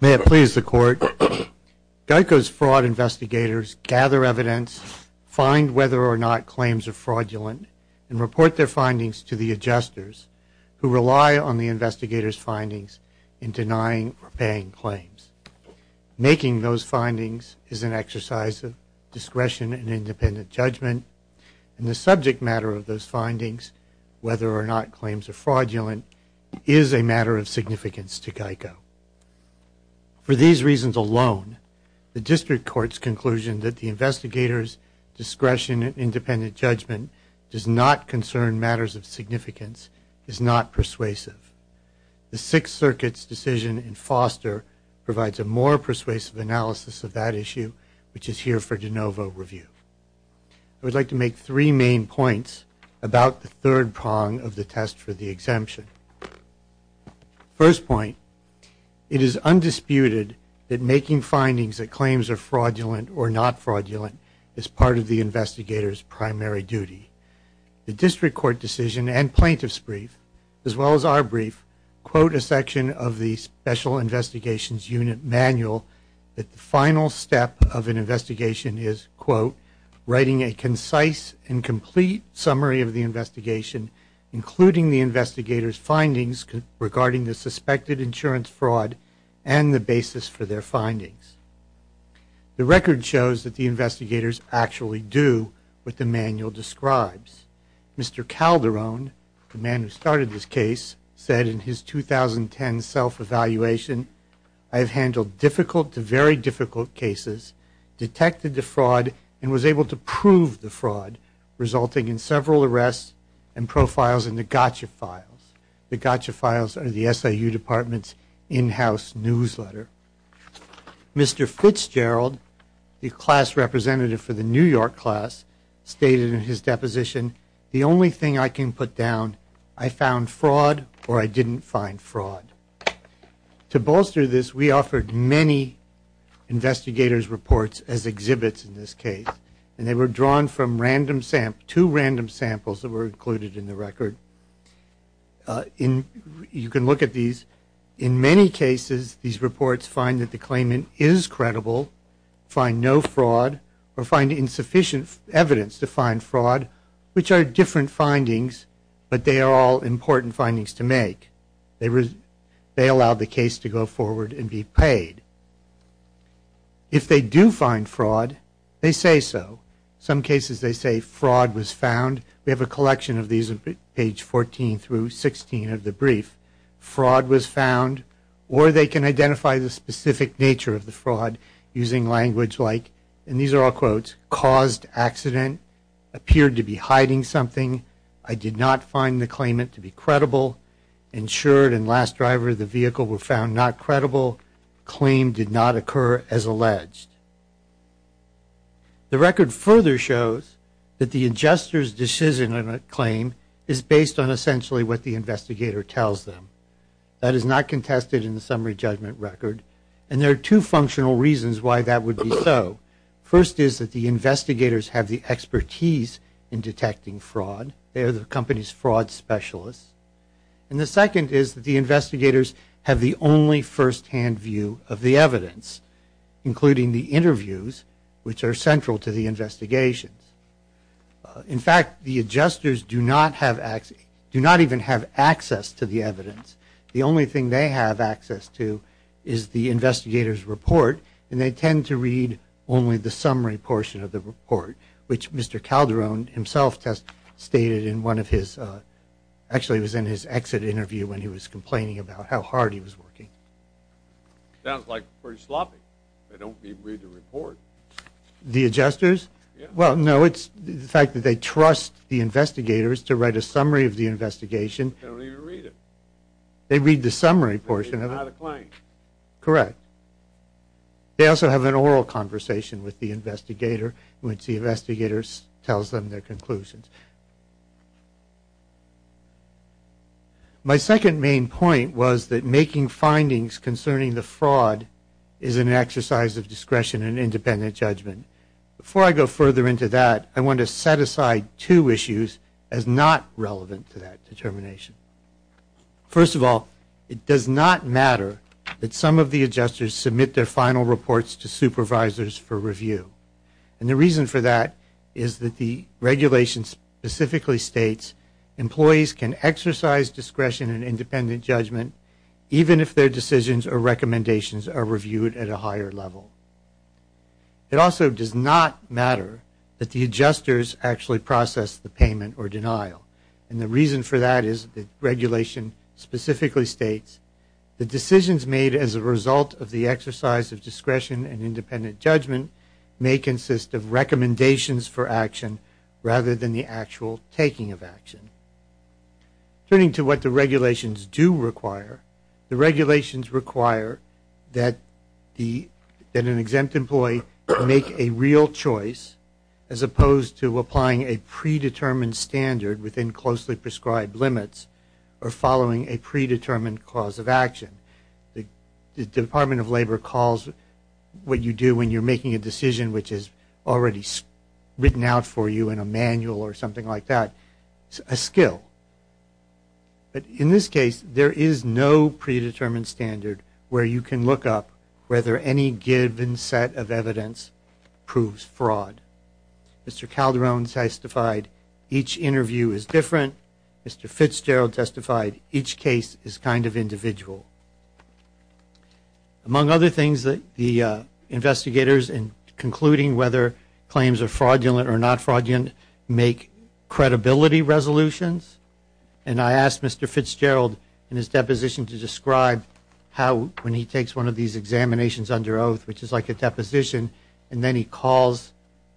May it please the Court, GEICO's fraud investigators gather evidence, find whether or not claims are fraudulent, and report their findings to the adjusters, who rely on the investigators' findings in denying or paying claims. Making those findings is an exercise of discretion and independent judgment, and the subject matter of those findings, whether or not claims are fraudulent, is a matter of significance to GEICO. For these reasons alone, the District Court's conclusion that the investigators' discretion and independent judgment does not The Sixth Circuit's decision in Foster provides a more persuasive analysis of that issue, which is here for de novo review. I would like to make three main points about the third prong of the test for the exemption. First point, it is undisputed that making findings that claims are fraudulent or not fraudulent is part of the investigators' primary duty. The District Court decision and plaintiff's brief, as well as our brief, quote a section of the Special Investigations Unit Manual that the final step of an investigation is quote, writing a concise and complete summary of the investigation, including the investigators' findings regarding the suspected insurance fraud and the basis for their findings. The Mr. Calderon, the man who started this case, said in his 2010 self-evaluation, I have handled difficult to very difficult cases, detected the fraud, and was able to prove the fraud, resulting in several arrests and profiles in the gotcha files. The gotcha files are the SIU Department's in-house newsletter. Mr. Fitzgerald, the class representative for my position, the only thing I can put down, I found fraud or I didn't find fraud. To bolster this, we offered many investigators' reports as exhibits in this case, and they were drawn from two random samples that were included in the record. You can look at these. In many cases, these reports find that the claimant is credible, find no fraud, or find insufficient evidence to find fraud, which are different findings, but they are all important findings to make. They allow the case to go forward and be paid. If they do find fraud, they say so. In some cases, they say fraud was found. We have a collection of these on page 14 through 16 of the brief. Fraud was found, or they can identify the specific nature of the fraud using language like, and these are all quotes, caused accident, appeared to be hiding something, I did not find the claimant to be credible, insured and last driver of the vehicle were found not credible, claim did not occur as alleged. The record further shows that the adjuster's decision on a claim is based on essentially what the investigator tells them. That is not contested in the summary judgment record, and there are two functional reasons why that would be so. First is that the investigators have the expertise in detecting fraud. They are the company's fraud specialists. And the second is that the investigators have the only firsthand view of the evidence, including the interviews, which are central to the investigations. In fact, the adjusters do not even have access to the evidence. The only thing they have access to is the investigator's report, and they tend to read only the summary portion of the report, which Mr. Calderon himself has stated in one of his, actually it was in his exit interview when he was complaining about how hard he was working. Sounds like pretty sloppy. They don't even read the report. The adjusters? Well, no, it's the fact that they trust the investigators to write a summary of the investigation. They don't even read it. They read the summary portion of it. They read it by the claim. Correct. They also have an oral conversation with the investigator, which the investigator tells them their conclusions. My second main point was that making findings concerning the fraud is an exercise of discretion and independent judgment. Before I go further into that, I want to set aside two issues as not relevant to that determination. First of all, it does not matter that some of the adjusters submit their final reports to supervisors for review. And the reason for that is that the regulation specifically states employees can exercise discretion and independent judgment even if their decisions or recommendations are reviewed at a higher level. It also does not matter that the adjusters actually process the payment or denial. And the reason for that is the regulation specifically states the decisions made as a result of the exercise of discretion and independent judgment may consist of recommendations for action rather than the actual taking of action. Turning to what the regulations do require, the regulations require that an exempt employee make a real choice as opposed to applying a predetermined standard within closely prescribed limits or following a predetermined cause of action. The Department of Labor calls what you do when you're making a decision which is already written out for you in a manual or something like that a skill. But in this case, there is no predetermined standard where you can look up whether any given set of evidence proves fraud. Mr. Calderon testified each interview is different. Mr. Fitzgerald testified each case is kind of individual. Among other things, the investigators in concluding whether claims are fraudulent or not fraudulent make credibility resolutions. And I asked Mr. Fitzgerald in his deposition to describe how when he takes one of these examinations under oath, which is like a deposition, and then he calls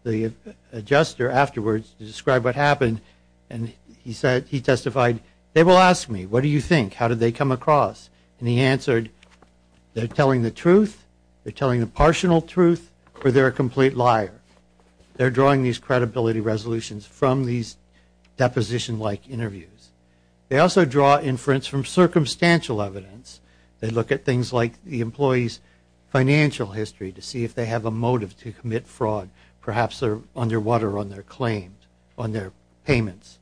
the adjuster afterwards to describe what happened, and he testified, they will ask me, what do you think? How did they come across? And he answered, they're telling the truth, they're telling the partial truth, or they're a complete liar. They're drawing these credibility resolutions from these deposition-like interviews. They also draw inference from circumstantial evidence. They look at things like the employee's financial history to see if they have a motive to commit fraud, perhaps they're underwater on their claims, on their payments.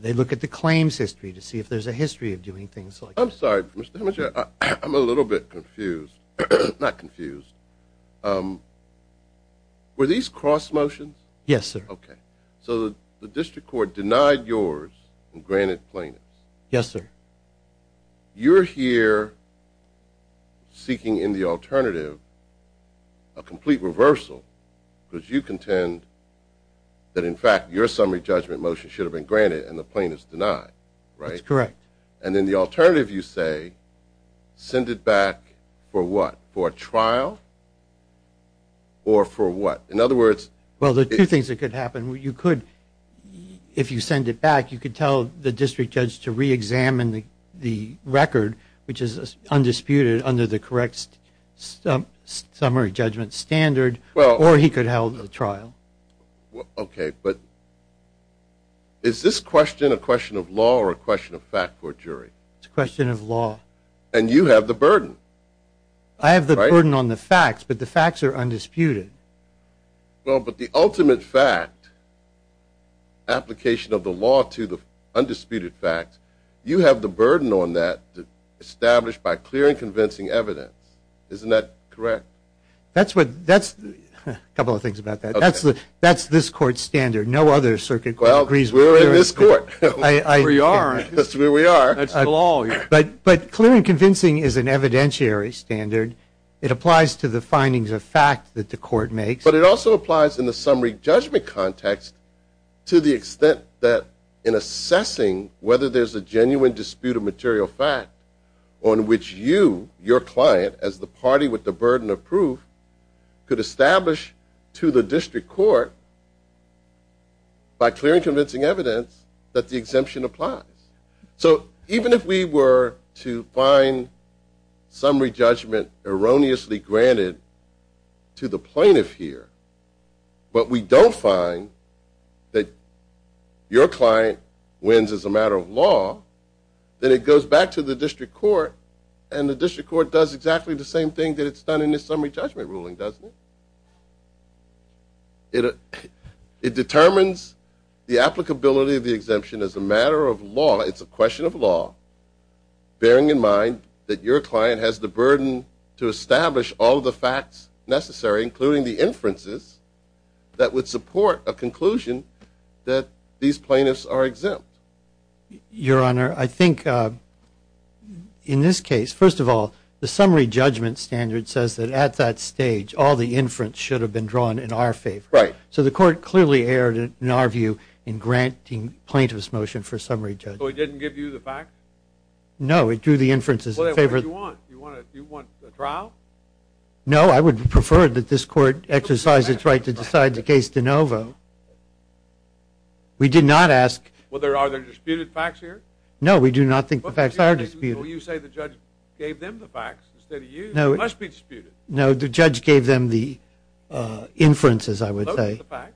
They look at the claims history to see if there's a history of doing things like that. I'm sorry, Mr. Heminger, I'm a little bit confused. Not confused. Were these cross motions? Yes, sir. Okay. So the district court denied yours and granted plaintiffs. Yes, sir. You're here seeking in the alternative a complete reversal because you contend that in fact your summary judgment motion should have been granted and the plaintiffs denied, right? That's correct. And in the alternative you say, send it back for what? For a trial? Or for what? In other words- Well, there are two things that could happen. You could, if you send it back, you could tell the district judge to re-examine the record, which is undisputed under the correct summary judgment standard, or he could hold the trial. Okay, but is this question a question of law or a question of fact for a jury? It's a question of law. And you have the burden, right? I have the burden on the facts, but the facts are undisputed. Well, but the ultimate fact, application of the law to the undisputed fact, you have the burden on that established by clear and convincing evidence. Isn't that correct? That's what, that's, a couple of things about that. That's this court's standard. No other circuit court agrees with that. Well, we're in this court. We are. That's where we are. That's the law. But clear and convincing is an evidentiary standard. It applies to the findings of fact that the court makes. But it also applies in the summary judgment context to the extent that in assessing whether there's a genuine dispute of material fact on which you, your client, as the party with the burden of proof, could establish to the district court by clear and convincing evidence that the exemption applies. So even if we were to find summary judgment erroneously granted to the plaintiff here, but we don't find that your client wins as a matter of law, then it goes back to the district court and the district court does exactly the same thing that it's done in the summary judgment ruling, doesn't it? It determines the applicability of the exemption as a matter of law. It's a question of law, bearing in mind that your client has the burden to establish all of the facts necessary, including the inferences, that would support a conclusion that these plaintiffs are exempt. Your Honor, I think in this case, first of all, the summary judgment standard says that at that stage, all the inference should have been drawn in our favor. So the court clearly erred in our view in granting plaintiff's motion for summary judgment. So it didn't give you the facts? No, it drew the inferences in favor of the... Well, then what do you want? Do you want a trial? No, I would prefer that this court exercise its right to decide the case de novo. We did not ask... Well, are there disputed facts here? No, we do not think the facts are disputed. Well, you say the judge gave them the facts instead of you. They must be disputed. No, the judge gave them the inferences, I would say. Those are the facts.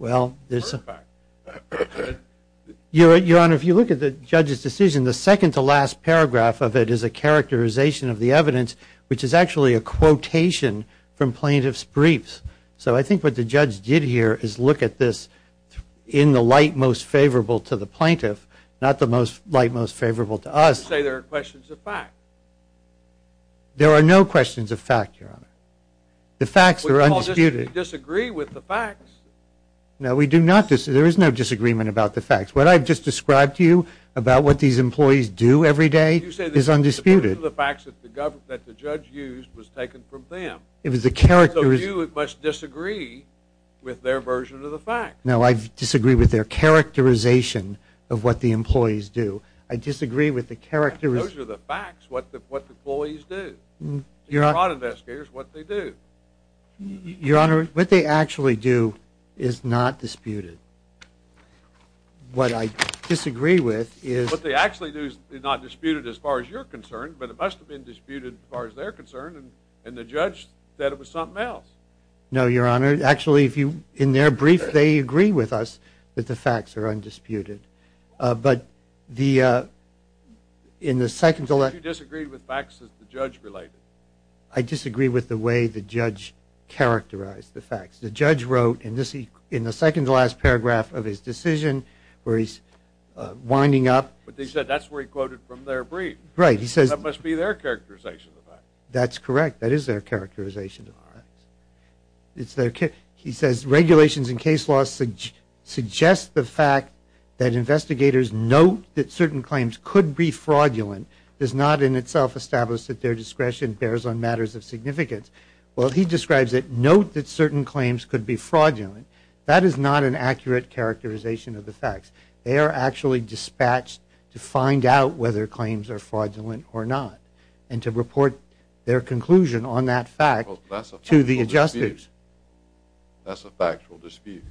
Well, there's... Those are the facts. Your Honor, if you look at the judge's decision, the second to last paragraph of it is a characterization of the evidence, which is actually a quotation from plaintiff's briefs. So I think what the judge did here is look at this in the light most favorable to the plaintiff, not the light most favorable to us. You say there are questions of facts. There are no questions of facts, Your Honor. The facts are undisputed. We disagree with the facts. No, we do not. There is no disagreement about the facts. What I've just described to you about what these employees do every day is undisputed. You say the facts that the judge used was taken from them. It was a characterization... So you must disagree with their version of the facts. No, I disagree with their characterization of what the employees do. I disagree with the characterization... Those are the facts, what the employees do. Your Honor... The fraud investigators, what they do. Your Honor, what they actually do is not disputed. What I disagree with is... What they actually do is not disputed as far as you're concerned, but it must have been disputed as far as they're concerned, and the judge said it was something else. No, Your Honor. Actually, in their brief, they agree with us that the facts are undisputed. But in the second... But you disagreed with facts that the judge related. I disagree with the way the judge characterized the facts. The judge wrote in the second to last paragraph of his decision where he's winding up... But they said that's where he quoted from their brief. Right, he says... That must be their characterization of the facts. That's correct. That is their characterization, Your Honor. It's their... He says regulations in case law suggest the fact that investigators note that certain claims could be fraudulent, does not in itself establish that their discretion bears on matters of significance. Well, he describes it, note that certain claims could be fraudulent. That is not an accurate characterization of the facts. They are actually dispatched to find out whether claims are fraudulent or not, and to report their conclusion on that fact to the adjusters. That's a factual dispute.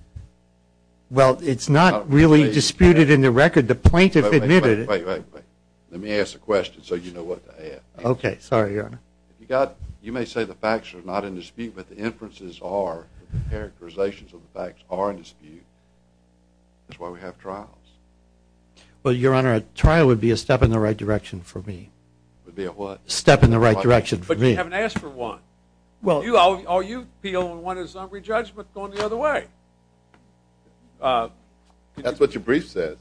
Well, it's not really disputed in the record. The plaintiff admitted... Wait, wait, wait. Let me ask a question so you know what to ask. Okay. Sorry, Your Honor. You may say the facts are not in dispute, but the inferences are, the characterizations of the facts are in dispute. That's why we have trials. Well, Your Honor, a trial would be a step in the right direction for me. Would be a what? Step in the right direction for me. But you haven't asked for one. Well, you appeal and want a summary judgment going the other way. That's what your brief says.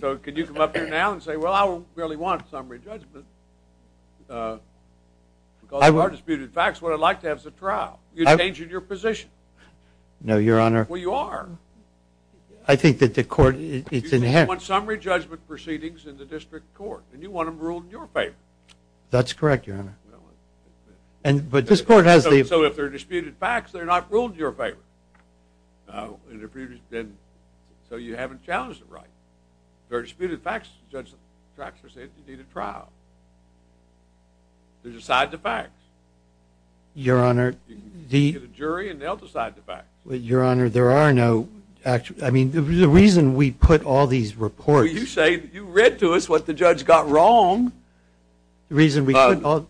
So can you come up here now and say, well, I don't really want a summary judgment because there are disputed facts. What I'd like to have is a trial. You're changing your position. No, Your Honor. Well, you are. I think that the court... Well, you want summary judgment proceedings in the district court, and you want them ruled in your favor. That's correct, Your Honor. But this court has the... So if they're disputed facts, they're not ruled in your favor. So you haven't challenged the right. If they're disputed facts, the judge will say you need a trial. They decide the facts. Your Honor, the... You get a jury and they'll decide the facts. Your Honor, there are no... I mean, the reason we put all these reports... You say you read to us what the judge got wrong. The reason we put all...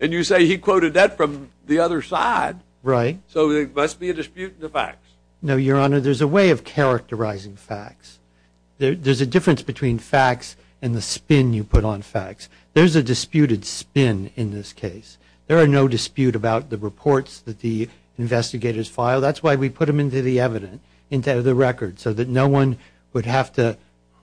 And you say he quoted that from the other side. Right. So there must be a dispute in the facts. No, Your Honor. There's a way of characterizing facts. There's a difference between facts and the spin you put on facts. There's a disputed spin in this case. There are no dispute about the reports that the investigators file. That's why we put them into the evidence, into the record, so that no one would have to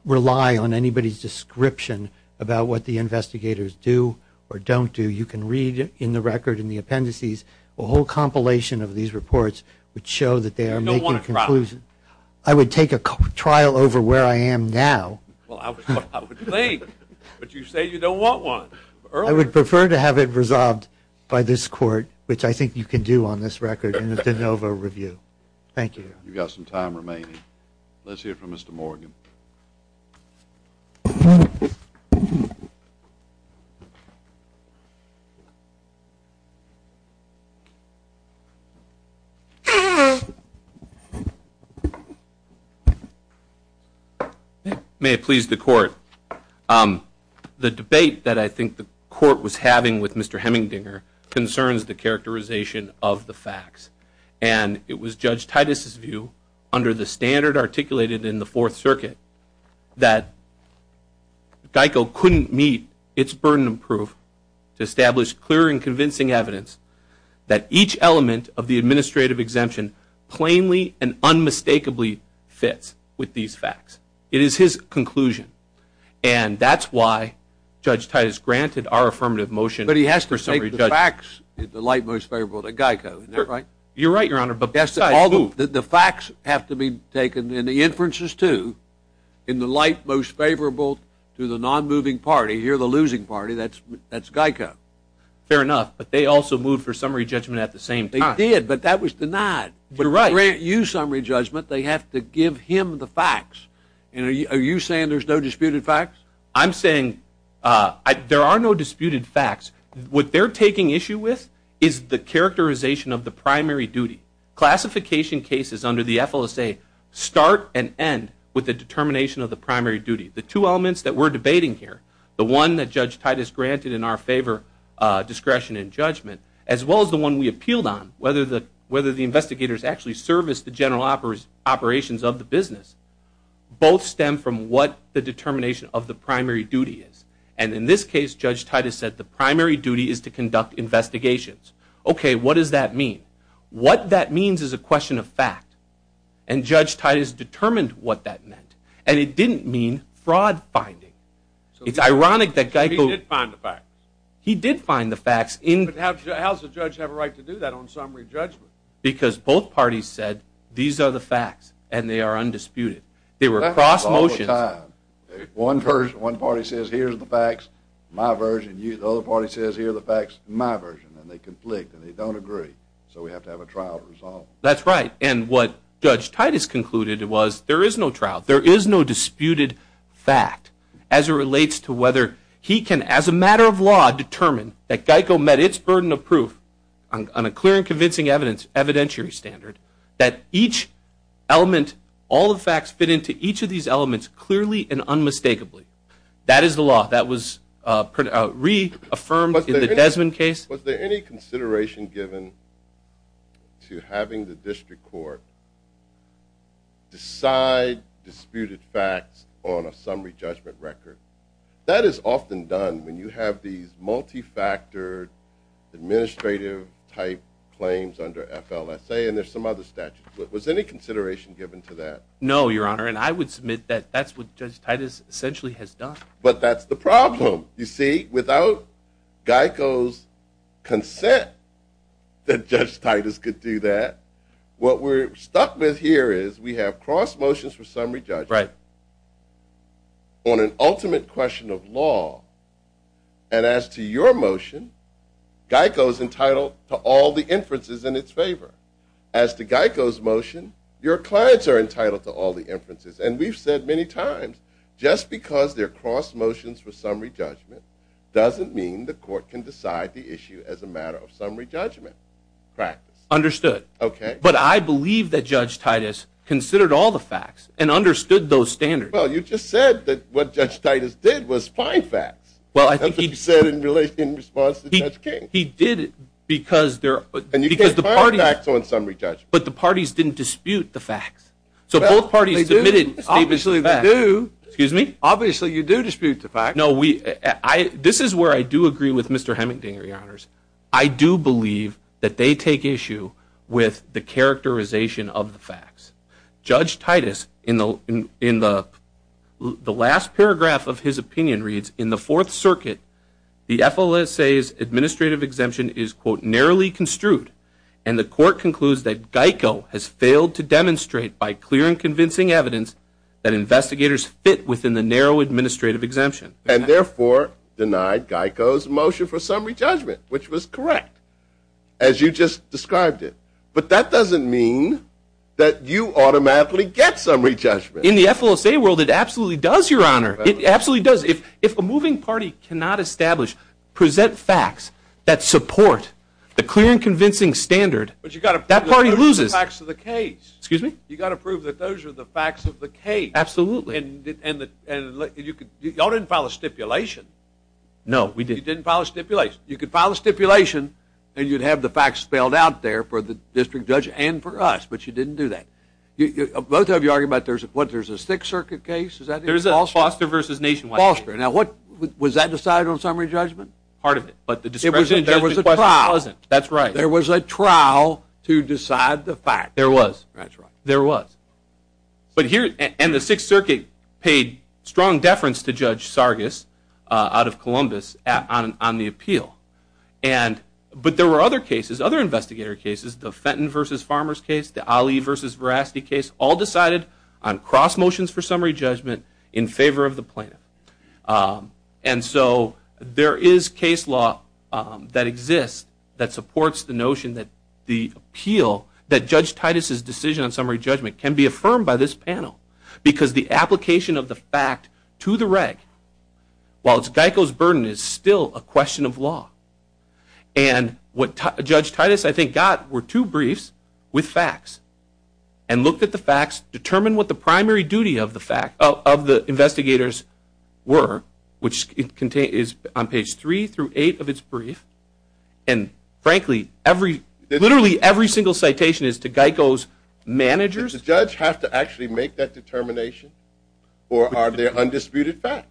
rely on anybody's description about what the investigators do or don't do. You can read in the record, in the appendices, a whole compilation of these reports which show that they are making conclusions. You don't want a trial. I would take a trial over where I am now. Well, I would think. But you say you don't want one. I would prefer to have it resolved by this Court, which I think you can do on this record in a de novo review. Thank you. You've got some time remaining. Let's hear from Mr. Morgan. May it please the Court. The debate that I think the Court was having with Mr. Hemmingdinger concerns the characterization of the facts. And it was Judge Titus' view, under the standard articulated in the Fourth Circuit, that GEICO couldn't meet its burden of proof to establish clear and convincing evidence that each element of the administrative exemption plainly and unmistakably fits with these facts. It is his conclusion. And that's why Judge Titus granted our affirmative motion for summary judgment. But he has to take the facts in the light most favorable to GEICO. Isn't that right? You're right, Your Honor. But the facts have to be taken in the inferences too, in the light most favorable to the non-moving party. You're the losing party. That's GEICO. Fair enough. But they also moved for summary judgment at the same time. They did. But that was denied. You're right. Are you saying there's no disputed facts? I'm saying there are no disputed facts. What they're taking issue with is the characterization of the primary duty. Classification cases under the FLSA start and end with the determination of the primary duty. The two elements that we're debating here, the one that Judge Titus granted in our favor, discretion and judgment, as well as the one we appealed on, whether the investigators actually serviced the general operations of the business, both stem from what the determination of the primary duty is. And in this case, Judge Titus said the primary duty is to conduct investigations. Okay, what does that mean? What that means is a question of fact. And Judge Titus determined what that meant. And it didn't mean fraud finding. It's ironic that GEICO He did find the facts. He did find the facts. But how does a judge have a right to do that on summary judgment? Because both parties said these are the facts and they are undisputed. They were cross motions. One party says here are the facts, my version. The other party says here are the facts, my version. And they conflict and they don't agree. So we have to have a trial resolved. That's right. And what Judge Titus concluded was there is no trial. GEICO met its burden of proof on a clear and convincing evidentiary standard that each element, all the facts fit into each of these elements clearly and unmistakably. That is the law. That was reaffirmed in the Desmond case. Was there any consideration given to having the district court decide disputed facts on a summary judgment record? That is often done when you have these multifactored administrative type claims under FLSA and there's some other statutes. But was any consideration given to that? No, Your Honor, and I would submit that that's what Judge Titus essentially has done. But that's the problem. You see, without GEICO's consent that Judge Titus could do that, what we're stuck with here is we have cross motions for summary judgment on an ultimate question of law. And as to your motion, GEICO's entitled to all the inferences in its favor. As to GEICO's motion, your clients are entitled to all the inferences. And we've said many times just because they're cross motions for summary judgment doesn't mean the court can decide the issue as a matter of summary judgment practice. Understood. Okay. But I believe that Judge Titus considered all the facts and understood those standards. Well, you just said that what Judge Titus did was find facts. Well, I think he did. That's what you said in relation in response to Judge King. He did it because there are facts on summary judgment. But the parties didn't dispute the facts. So both parties submitted statements of facts. Obviously they do. Excuse me? Obviously you do dispute the facts. No, this is where I do agree with Mr. Hemmingdinger, Your Honors. I do believe that they take issue with the characterization of the facts. Judge Titus, in the last paragraph of his opinion reads, in the Fourth Circuit, the FLSA's administrative exemption is, quote, narrowly construed and the court concludes that GEICO has failed to demonstrate by clear and convincing evidence that investigators fit within the narrow administrative exemption. And therefore denied GEICO's motion for summary judgment, which was correct, as you just described it. But that doesn't mean that you automatically get summary judgment. In the FLSA world, it absolutely does, Your Honor. It absolutely does. If a moving party cannot establish, present facts that support the clear and convincing standard, that party loses. But you've got to prove the facts of the case. Excuse me? You've got to prove that those are the facts of the case. Absolutely. Y'all didn't file a stipulation. No, we didn't. You didn't file a stipulation. You could file a stipulation and you'd have the facts spelled out there for the district judge and for us, but you didn't do that. Both of you argue about there's a Sixth Circuit case? There's a Foster v. Nationwide case. Foster. Now, was that decided on summary judgment? Part of it, but the discretionary judgment question wasn't. There was a trial. That's right. There was a trial to decide the facts. There was. That's right. There was. And the Sixth Circuit paid strong deference to Judge Sargis out of Columbus on the appeal. But there were other cases, other investigator cases, the Fenton v. Farmers case, the Ali v. Veracity case, all decided on cross motions for summary judgment in favor of the plaintiff. And so there is case law that exists that supports the notion that the appeal, that Judge Titus' decision on summary judgment can be affirmed by this panel because the application of the fact to the reg, while it's Geico's burden, is still a question of law. And what Judge Titus, I think, got were two briefs with facts and looked at the facts, determined what the primary duty of the investigators were, which is on page 3 through 8 of its brief. And frankly, literally every single citation is to Geico's managers. Did the judge have to actually make that determination? Or are there undisputed facts?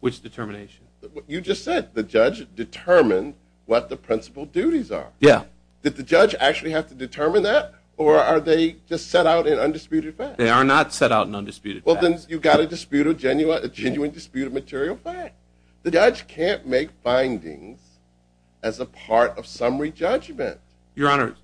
Which determination? You just said the judge determined what the principal duties are. Yeah. Did the judge actually have to determine that? Or are they just set out in undisputed facts? They are not set out in undisputed facts. Well, then you've got a disputed, genuine disputed material fact. The judge can't make findings as a part of summary judgment. Your Honor.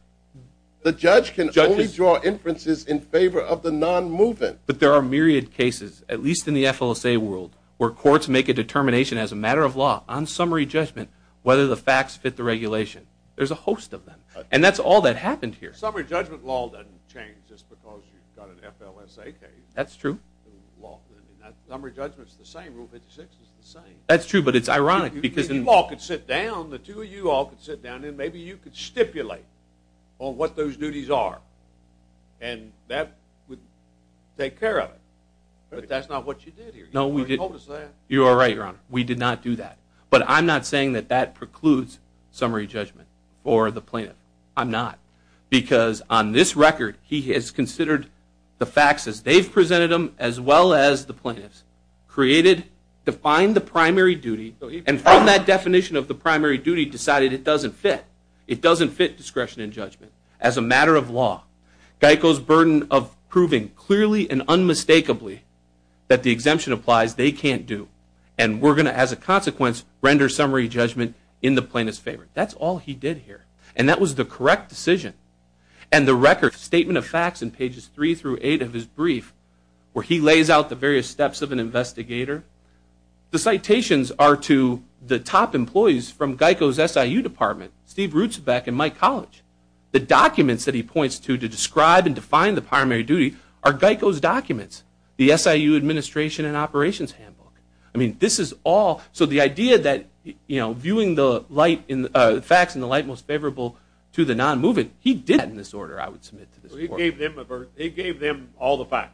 The judge can only draw inferences in favor of the non-moving. But there are myriad cases, at least in the FLSA world, where courts make a determination as a matter of law on summary judgment whether the facts fit the regulation. There's a host of them. And that's all that happened here. Summary judgment law doesn't change just because you've got an FLSA case. That's true. Summary judgment's the same. Rule 56 is the same. That's true, but it's ironic. You all could sit down, the two of you all could sit down, and maybe you could stipulate on what those duties are. And that would take care of it. But that's not what you did here. You already told us that. You are right, Your Honor. We did not do that. But I'm not saying that that precludes summary judgment for the plaintiff. I'm not. Because on this record he has considered the facts as they've presented them as well as the plaintiffs, created, defined the primary duty, and from that definition of the primary duty decided it doesn't fit. It doesn't fit discretion and judgment. As a matter of law, Geico's burden of proving clearly and unmistakably that the exemption applies, they can't do. And we're going to, as a consequence, render summary judgment in the plaintiff's favor. That's all he did here. And that was the correct decision. And the record statement of facts in pages 3 through 8 of his brief, where he lays out the various steps of an investigator, the citations are to the top employees from Geico's SIU department, Steve Rutzbeck and Mike College. The documents that he points to to describe and define the primary duty are Geico's documents, the SIU administration and operations handbook. I mean, this is all, so the idea that, you know, viewing the facts in the light most favorable to the non-moving, he did that in this order, I would submit to this report. He gave them all the facts.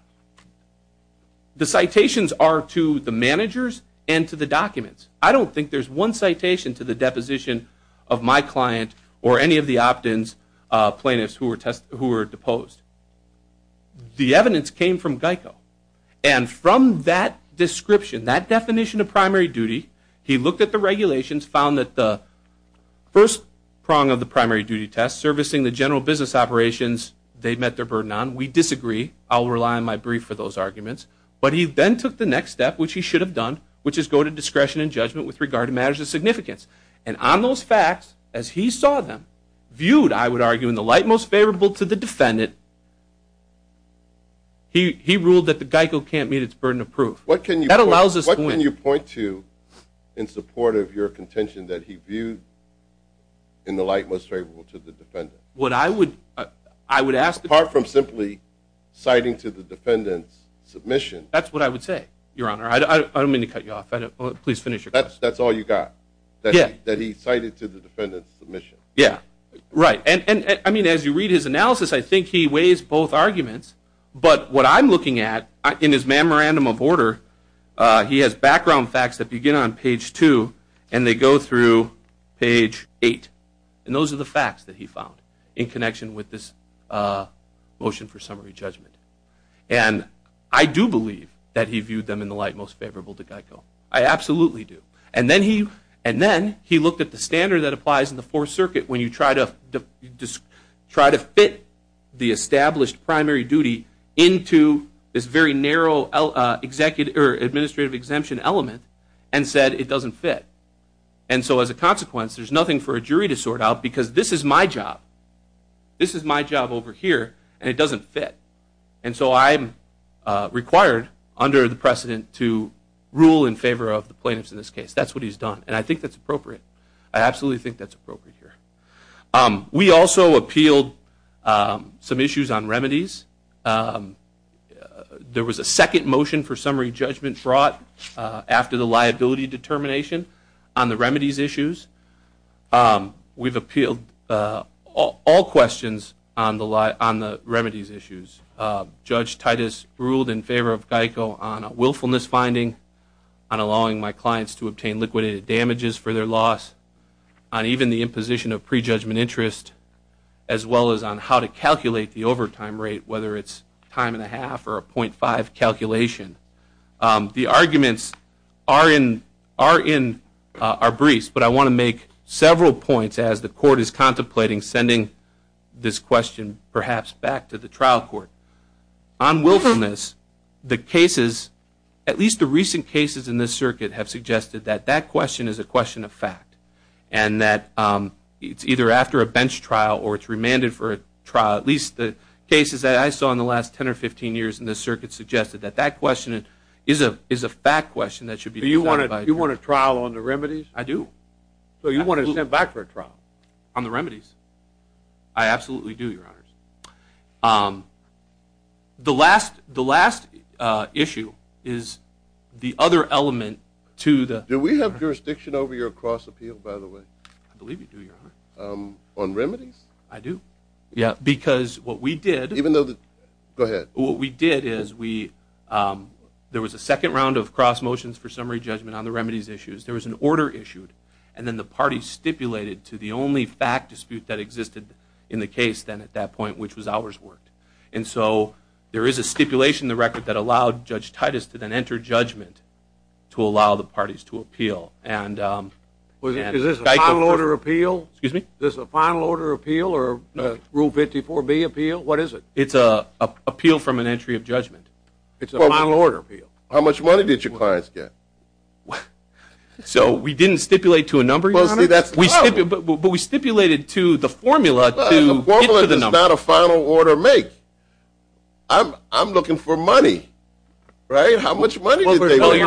The citations are to the managers and to the documents. I don't think there's one citation to the deposition of my client or any of the opt-ins, plaintiffs who were deposed. The evidence came from Geico. And from that description, that definition of primary duty, he looked at the regulations, found that the first prong of the primary duty test, servicing the general business operations they met their burden on, we disagree. I'll rely on my brief for those arguments. But he then took the next step, which he should have done, which is go to discretion and judgment with regard to matters of significance. And on those facts, as he saw them, viewed, I would argue, in the light most favorable to the defendant, he ruled that the Geico can't meet its burden of proof. That allows us to win. What can you point to in support of your contention that he viewed in the light most favorable to the defendant? What I would ask. Apart from simply citing to the defendant's submission. That's what I would say, Your Honor. I don't mean to cut you off. Please finish your question. That's all you got, that he cited to the defendant's submission? Yeah. Right. And, I mean, as you read his analysis, I think he weighs both arguments. But what I'm looking at, in his memorandum of order, he has background facts that begin on page 2 and they go through page 8. And those are the facts that he found in connection with this motion for summary judgment. And I do believe that he viewed them in the light most favorable to Geico. I absolutely do. And then he looked at the standard that applies in the Fourth Circuit when you try to fit the established primary duty into this very narrow administrative exemption element and said it doesn't fit. And so, as a consequence, there's nothing for a jury to sort out because this is my job. This is my job over here and it doesn't fit. And so I'm required, under the precedent, to rule in favor of the plaintiffs in this case. That's what he's done. And I think that's appropriate. I absolutely think that's appropriate here. We also appealed some issues on remedies. There was a second motion for summary judgment brought after the liability determination on the remedies issues. We've appealed all questions on the remedies issues. Judge Titus ruled in favor of Geico on a willfulness finding, on allowing my clients to obtain liquidated damages for their loss, on even the imposition of pre-judgment interest, as well as on how to calculate the overtime rate, whether it's time and a half or a .5 calculation. The arguments are in our briefs, but I want to make several points as the court is contemplating sending this question, perhaps, back to the trial court. On willfulness, the cases, at least the recent cases in this circuit, have suggested that that question is a question of fact and that it's either after a bench trial or it's remanded for a trial. At least the cases that I saw in the last 10 or 15 years in this circuit suggested that that question is a fact question that should be decided by a jury. Do you want a trial on the remedies? I do. So you want to send it back for a trial? On the remedies. I absolutely do, Your Honors. The last issue is the other element to the… Do we have jurisdiction over your cross-appeal, by the way? I believe we do, Your Honor. On remedies? I do. Yeah, because what we did… Go ahead. What we did is there was a second round of cross-motions for summary judgment on the remedies issues. There was an order issued, and then the parties stipulated to the only fact dispute that existed in the case then at that point, which was ours, worked. And so there is a stipulation in the record that allowed Judge Titus to then enter judgment to allow the parties to appeal. Is this a final order appeal? Excuse me? Is this a final order appeal or Rule 54B appeal? What is it? It's an appeal from an entry of judgment. It's a final order appeal. How much money did your clients get? So we didn't stipulate to a number, Your Honor? But we stipulated to the formula to get to the number. A formula is not a final order make. I'm looking for money, right? How much money did they make?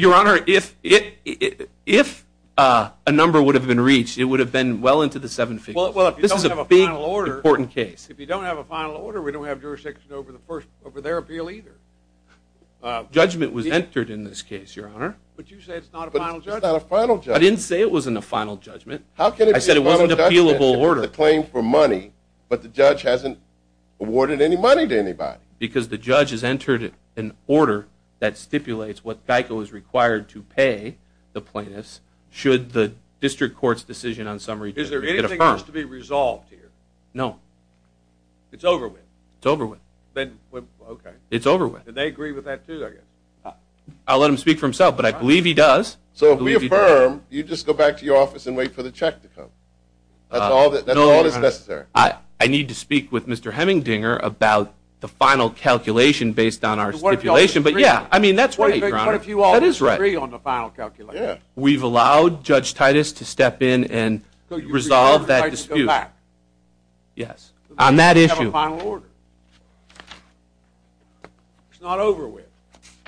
Your Honor, if a number would have been reached, it would have been well into the seven figures. Well, if you don't have a final order… It's an important case. If you don't have a final order, we don't have jurisdiction over their appeal either. Judgment was entered in this case, Your Honor. But you said it's not a final judgment. It's not a final judgment. I didn't say it wasn't a final judgment. I said it wasn't an appealable order. It's a claim for money, but the judge hasn't awarded any money to anybody. Because the judge has entered an order that stipulates what GEICO is required to pay the plaintiffs should the district court's decision on summary judgment be affirmed. It has to be resolved here. No. It's over with. It's over with. Okay. It's over with. And they agree with that too, I guess. I'll let him speak for himself, but I believe he does. So if we affirm, you just go back to your office and wait for the check to come. That's all that's necessary. I need to speak with Mr. Hemmingdinger about the final calculation based on our stipulation. But yeah, I mean, that's right, Your Honor. What if you all agree on the final calculation? We've allowed Judge Titus to step in and resolve that dispute. So you reserve the right to go back? Yes. On that issue. You have a final order. It's not over with.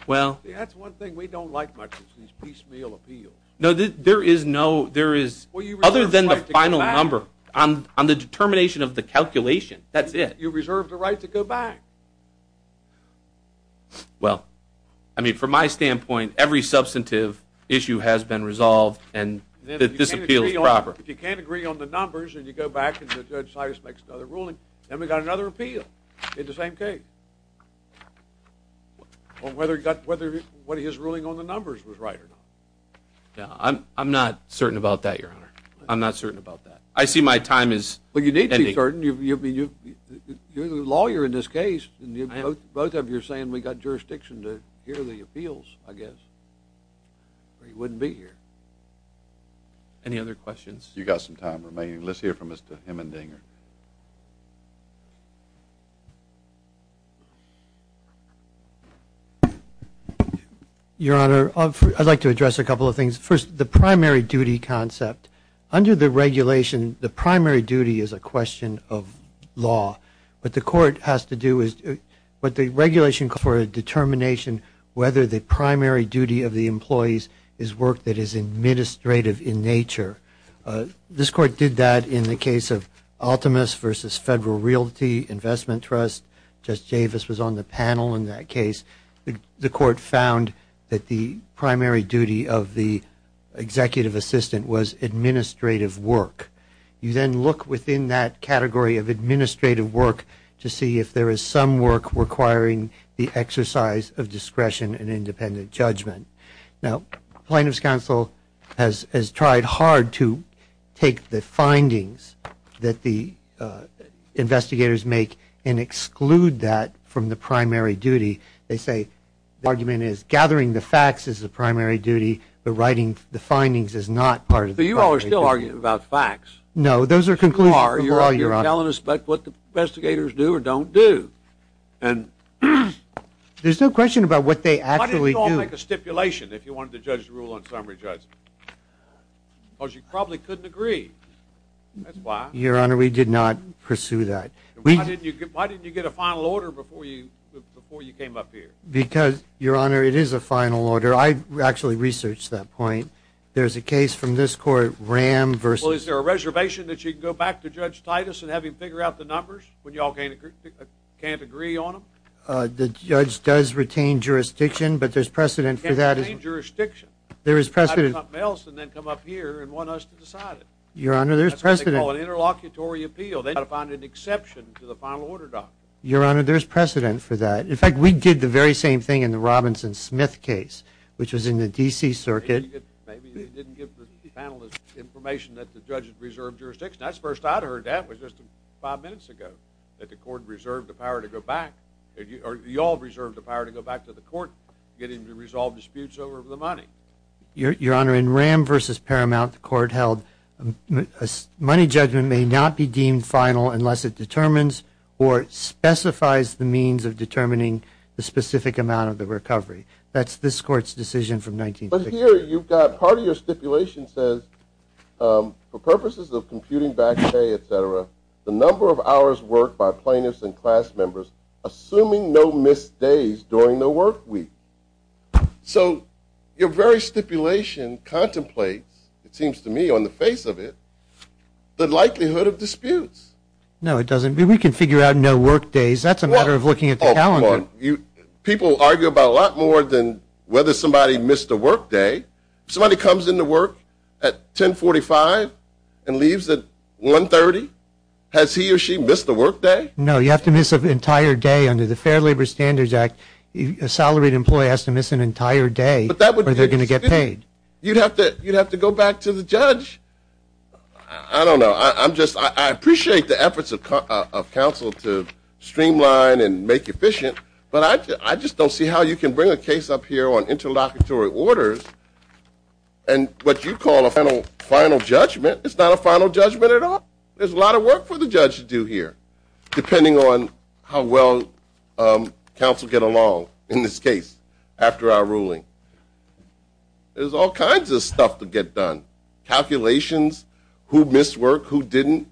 Well. See, that's one thing we don't like much is these piecemeal appeals. No, there is no, there is, other than the final number, on the determination of the calculation, that's it. You reserve the right to go back. Well, I mean, from my standpoint, every substantive issue has been resolved and this appeal is proper. If you can't agree on the numbers and you go back and Judge Titus makes another ruling, then we've got another appeal in the same case. On whether his ruling on the numbers was right or not. I'm not certain about that, Your Honor. I'm not certain about that. I see my time is ending. You're the lawyer in this case. Both of you are saying we've got jurisdiction to hear the appeals, I guess. Or he wouldn't be here. Any other questions? You've got some time remaining. Let's hear from Mr. Hemendinger. Your Honor, I'd like to address a couple of things. First, the primary duty concept. Under the regulation, the primary duty is a question of law. What the court has to do is, what the regulation calls for is a determination whether the primary duty of the employees is work that is administrative in nature. This court did that in the case of Altamus v. Federal Realty Investment Trust. Judge Davis was on the panel in that case. The court found that the primary duty of the executive assistant was administrative work. You then look within that category of administrative work to see if there is some work requiring the exercise of discretion and independent judgment. Now, plaintiff's counsel has tried hard to take the findings that the investigators make and exclude that from the primary duty. They say the argument is gathering the facts is the primary duty, but writing the findings is not part of the primary duty. But you all are still arguing about facts. No, those are conclusions. You are. You're telling us what the investigators do or don't do. There's no question about what they actually do. Why didn't you all make a stipulation if you wanted to judge the rule on summary judgment? Because you probably couldn't agree. That's why. Your Honor, we did not pursue that. Why didn't you get a final order before you came up here? Because, Your Honor, it is a final order. I actually researched that point. There's a case from this court, Ram v. Well, is there a reservation that you can go back to Judge Titus and have him figure out the numbers when you all can't agree on them? The judge does retain jurisdiction, but there's precedent for that. Can't retain jurisdiction. There is precedent. And then come up here and want us to decide it. Your Honor, there's precedent. That's what they call an interlocutory appeal. They've got to find an exception to the final order document. Your Honor, there's precedent for that. In fact, we did the very same thing in the Robinson-Smith case, which was in the D.C. Circuit. Maybe you didn't give the panelist information that the judge had reserved jurisdiction. That's the first I'd heard that was just five minutes ago, that the court reserved the power to go back, or you all reserved the power to go back to the court to get him to resolve disputes over the money. Your Honor, in Ram v. Paramount, the court held money judgment may not be deemed final unless it determines or specifies the means of determining the specific amount of the recovery. That's this court's decision from 1963. But here you've got part of your stipulation says, for purposes of computing back pay, et cetera, the number of hours worked by plaintiffs and class members, assuming no missed days during the work week. So your very stipulation contemplates, it seems to me on the face of it, the likelihood of disputes. No, it doesn't. We can figure out no work days. That's a matter of looking at the calendar. People argue about a lot more than whether somebody missed a work day. If somebody comes into work at 10.45 and leaves at 1.30, has he or she missed a work day? No, you have to miss an entire day under the Fair Labor Standards Act. A salaried employee has to miss an entire day or they're going to get paid. You'd have to go back to the judge. I don't know. I appreciate the efforts of counsel to streamline and make efficient, but I just don't see how you can bring a case up here on interlocutory orders and what you call a final judgment. It's not a final judgment at all. There's a lot of work for the judge to do here, depending on how well counsel get along in this case after our ruling. There's all kinds of stuff to get done, calculations, who missed work, who didn't.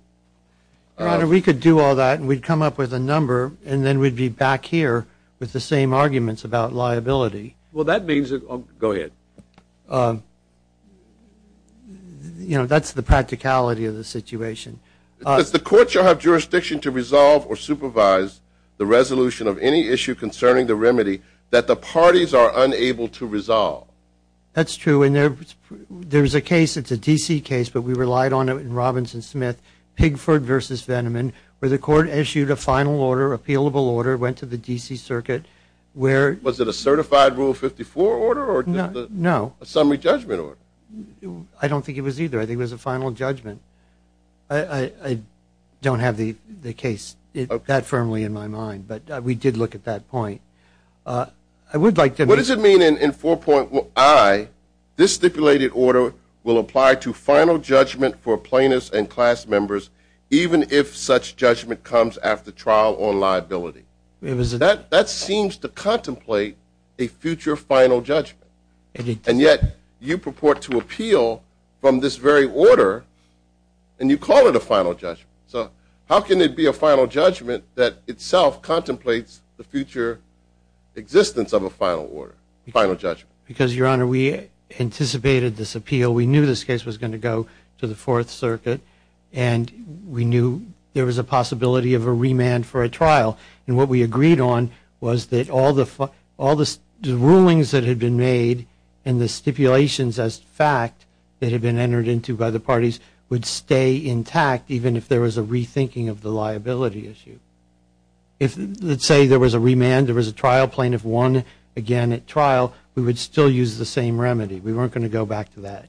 We could do all that, and we'd come up with a number, and then we'd be back here with the same arguments about liability. Well, that means that – go ahead. You know, that's the practicality of the situation. Does the court shall have jurisdiction to resolve or supervise the resolution of any issue concerning the remedy that the parties are unable to resolve? That's true, and there's a case, it's a D.C. case, but we relied on it in Robinson-Smith, Pigford v. Veneman, where the court issued a final order, appealable order, went to the D.C. Circuit. Was it a certified Rule 54 order or just a summary judgment order? I don't think it was either. I think it was a final judgment. I don't have the case that firmly in my mind, but we did look at that point. I would like to – What does it mean in 4.1i, this stipulated order will apply to final judgment for plaintiffs and class members, even if such judgment comes after trial on liability? That seems to contemplate a future final judgment, and yet you purport to appeal from this very order, and you call it a final judgment. So how can it be a final judgment that itself contemplates the future existence of a final order, final judgment? Because, Your Honor, we anticipated this appeal. We knew this case was going to go to the Fourth Circuit, and we knew there was a possibility of a remand for a trial, and what we agreed on was that all the rulings that had been made and the stipulations as fact that had been entered into by the parties would stay intact, even if there was a rethinking of the liability issue. If, let's say, there was a remand, there was a trial, plaintiff won again at trial, we would still use the same remedy. We weren't going to go back to that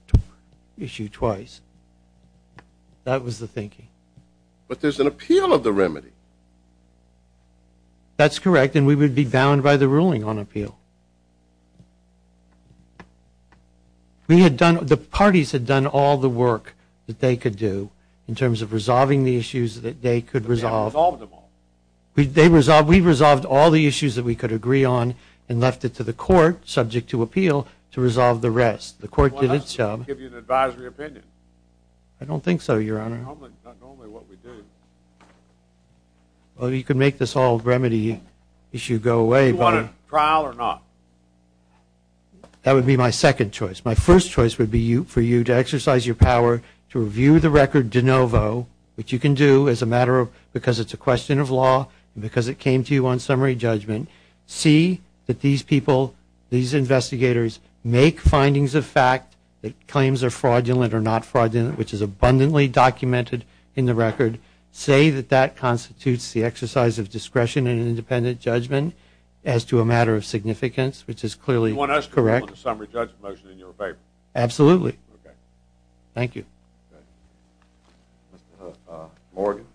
issue twice. That was the thinking. But there's an appeal of the remedy. That's correct, and we would be bound by the ruling on appeal. The parties had done all the work that they could do in terms of resolving the issues that they could resolve. But they haven't resolved them all. We resolved all the issues that we could agree on and left it to the court, subject to appeal, to resolve the rest. The court did its job. I don't think so, Your Honor. Well, you could make this whole remedy issue go away. Do you want a trial or not? That would be my second choice. My first choice would be for you to exercise your power to review the record de novo, which you can do because it's a question of law and because it came to you on summary judgment, see that these people, these investigators, make findings of fact that claims are fraudulent or not fraudulent, which is abundantly documented in the record, say that that constitutes the exercise of discretion and independent judgment as to a matter of significance, which is clearly correct. You want us to rule on the summary judgment motion in your favor? Absolutely. Okay. Thank you. Okay. Mr. Morgan.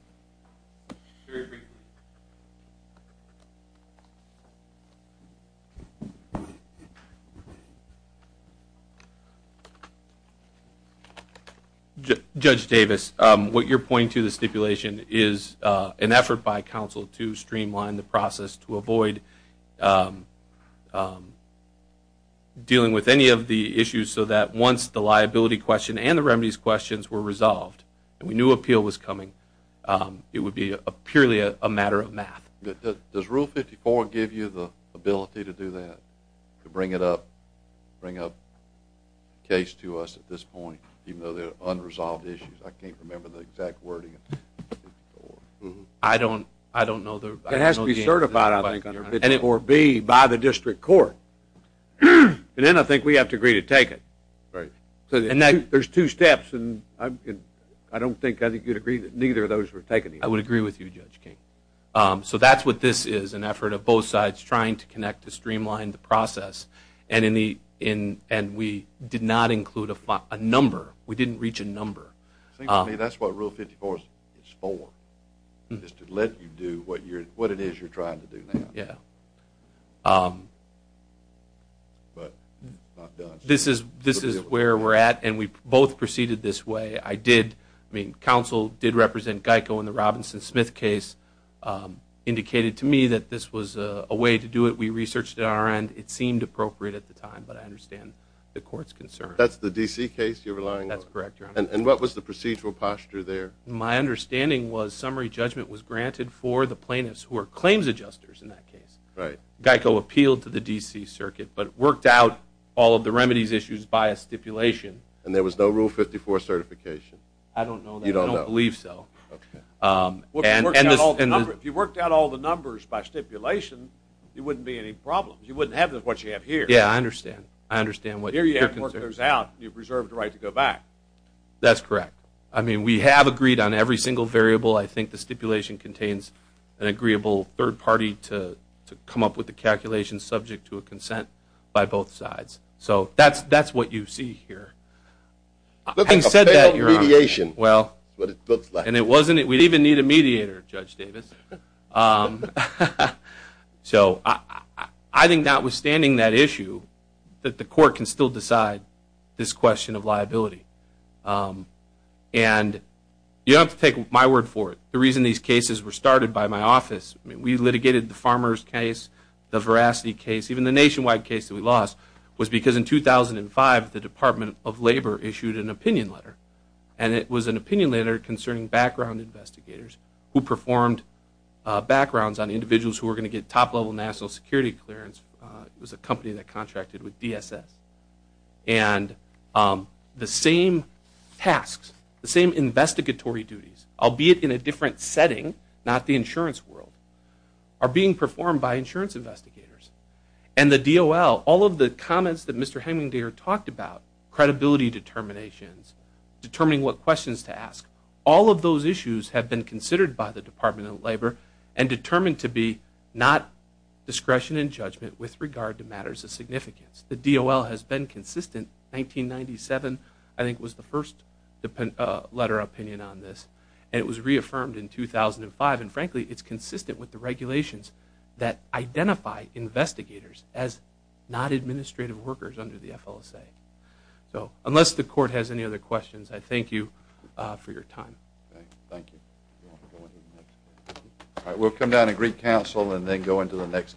Judge Davis, what you're pointing to, the stipulation, is an effort by counsel to streamline the process to avoid dealing with any of the issues so that once the liability question and the remedies questions were resolved and we knew appeal was coming, it would be purely a matter of math. Does Rule 54 give you the ability to do that, to bring a case to us at this point, even though they're unresolved issues? I can't remember the exact wording. I don't know. It has to be certified, I think, under 54B, by the district court. And then I think we have to agree to take it. Right. There's two steps, and I don't think I think you'd agree that neither of those were taken. I would agree with you, Judge King. So that's what this is, an effort of both sides trying to connect to streamline the process, and we did not include a number. We didn't reach a number. It seems to me that's what Rule 54 is for, is to let you do what it is you're trying to do now. Yeah. This is where we're at, and we both proceeded this way. I mean, counsel did represent GEICO in the Robinson-Smith case, indicated to me that this was a way to do it. We researched it on our end. It seemed appropriate at the time, but I understand the court's concern. That's the D.C. case you're relying on? That's correct, Your Honor. And what was the procedural posture there? My understanding was summary judgment was granted for the plaintiffs who are claims adjusters in that case. Right. GEICO appealed to the D.C. circuit, but worked out all of the remedies issues by a stipulation. And there was no Rule 54 certification? I don't know that. You don't know? I don't believe so. Okay. If you worked out all the numbers by stipulation, there wouldn't be any problems. You wouldn't have what you have here. Yeah, I understand. I understand what your concern is. That's correct. I mean, we have agreed on every single variable. I think the stipulation contains an agreeable third party to come up with the calculation subject to a consent by both sides. So that's what you see here. I said that, Your Honor. It looks like a failed mediation. Well, and it wasn't. We'd even need a mediator, Judge Davis. So I think notwithstanding that issue, that the court can still decide this question of liability. And you don't have to take my word for it. The reason these cases were started by my office, we litigated the Farmers case, the Veracity case, even the nationwide case that we lost, was because in 2005 the Department of Labor issued an opinion letter. And it was an opinion letter concerning background investigators who performed backgrounds on individuals who were going to get top-level national security clearance. It was a company that contracted with DSS. And the same tasks, the same investigatory duties, albeit in a different setting, not the insurance world, are being performed by insurance investigators. And the DOL, all of the comments that Mr. Hemingdayer talked about, credibility determinations, determining what questions to ask, all of those issues have been considered by the Department of Labor and determined to be not discretion and judgment with regard to matters of significance. The DOL has been consistent. 1997, I think, was the first letter of opinion on this. And it was reaffirmed in 2005. And frankly, it's consistent with the regulations that identify investigators as not administrative workers under the FLSA. So unless the court has any other questions, I thank you for your time. Thank you. All right, we'll come down to Greek Council and then go into the next case.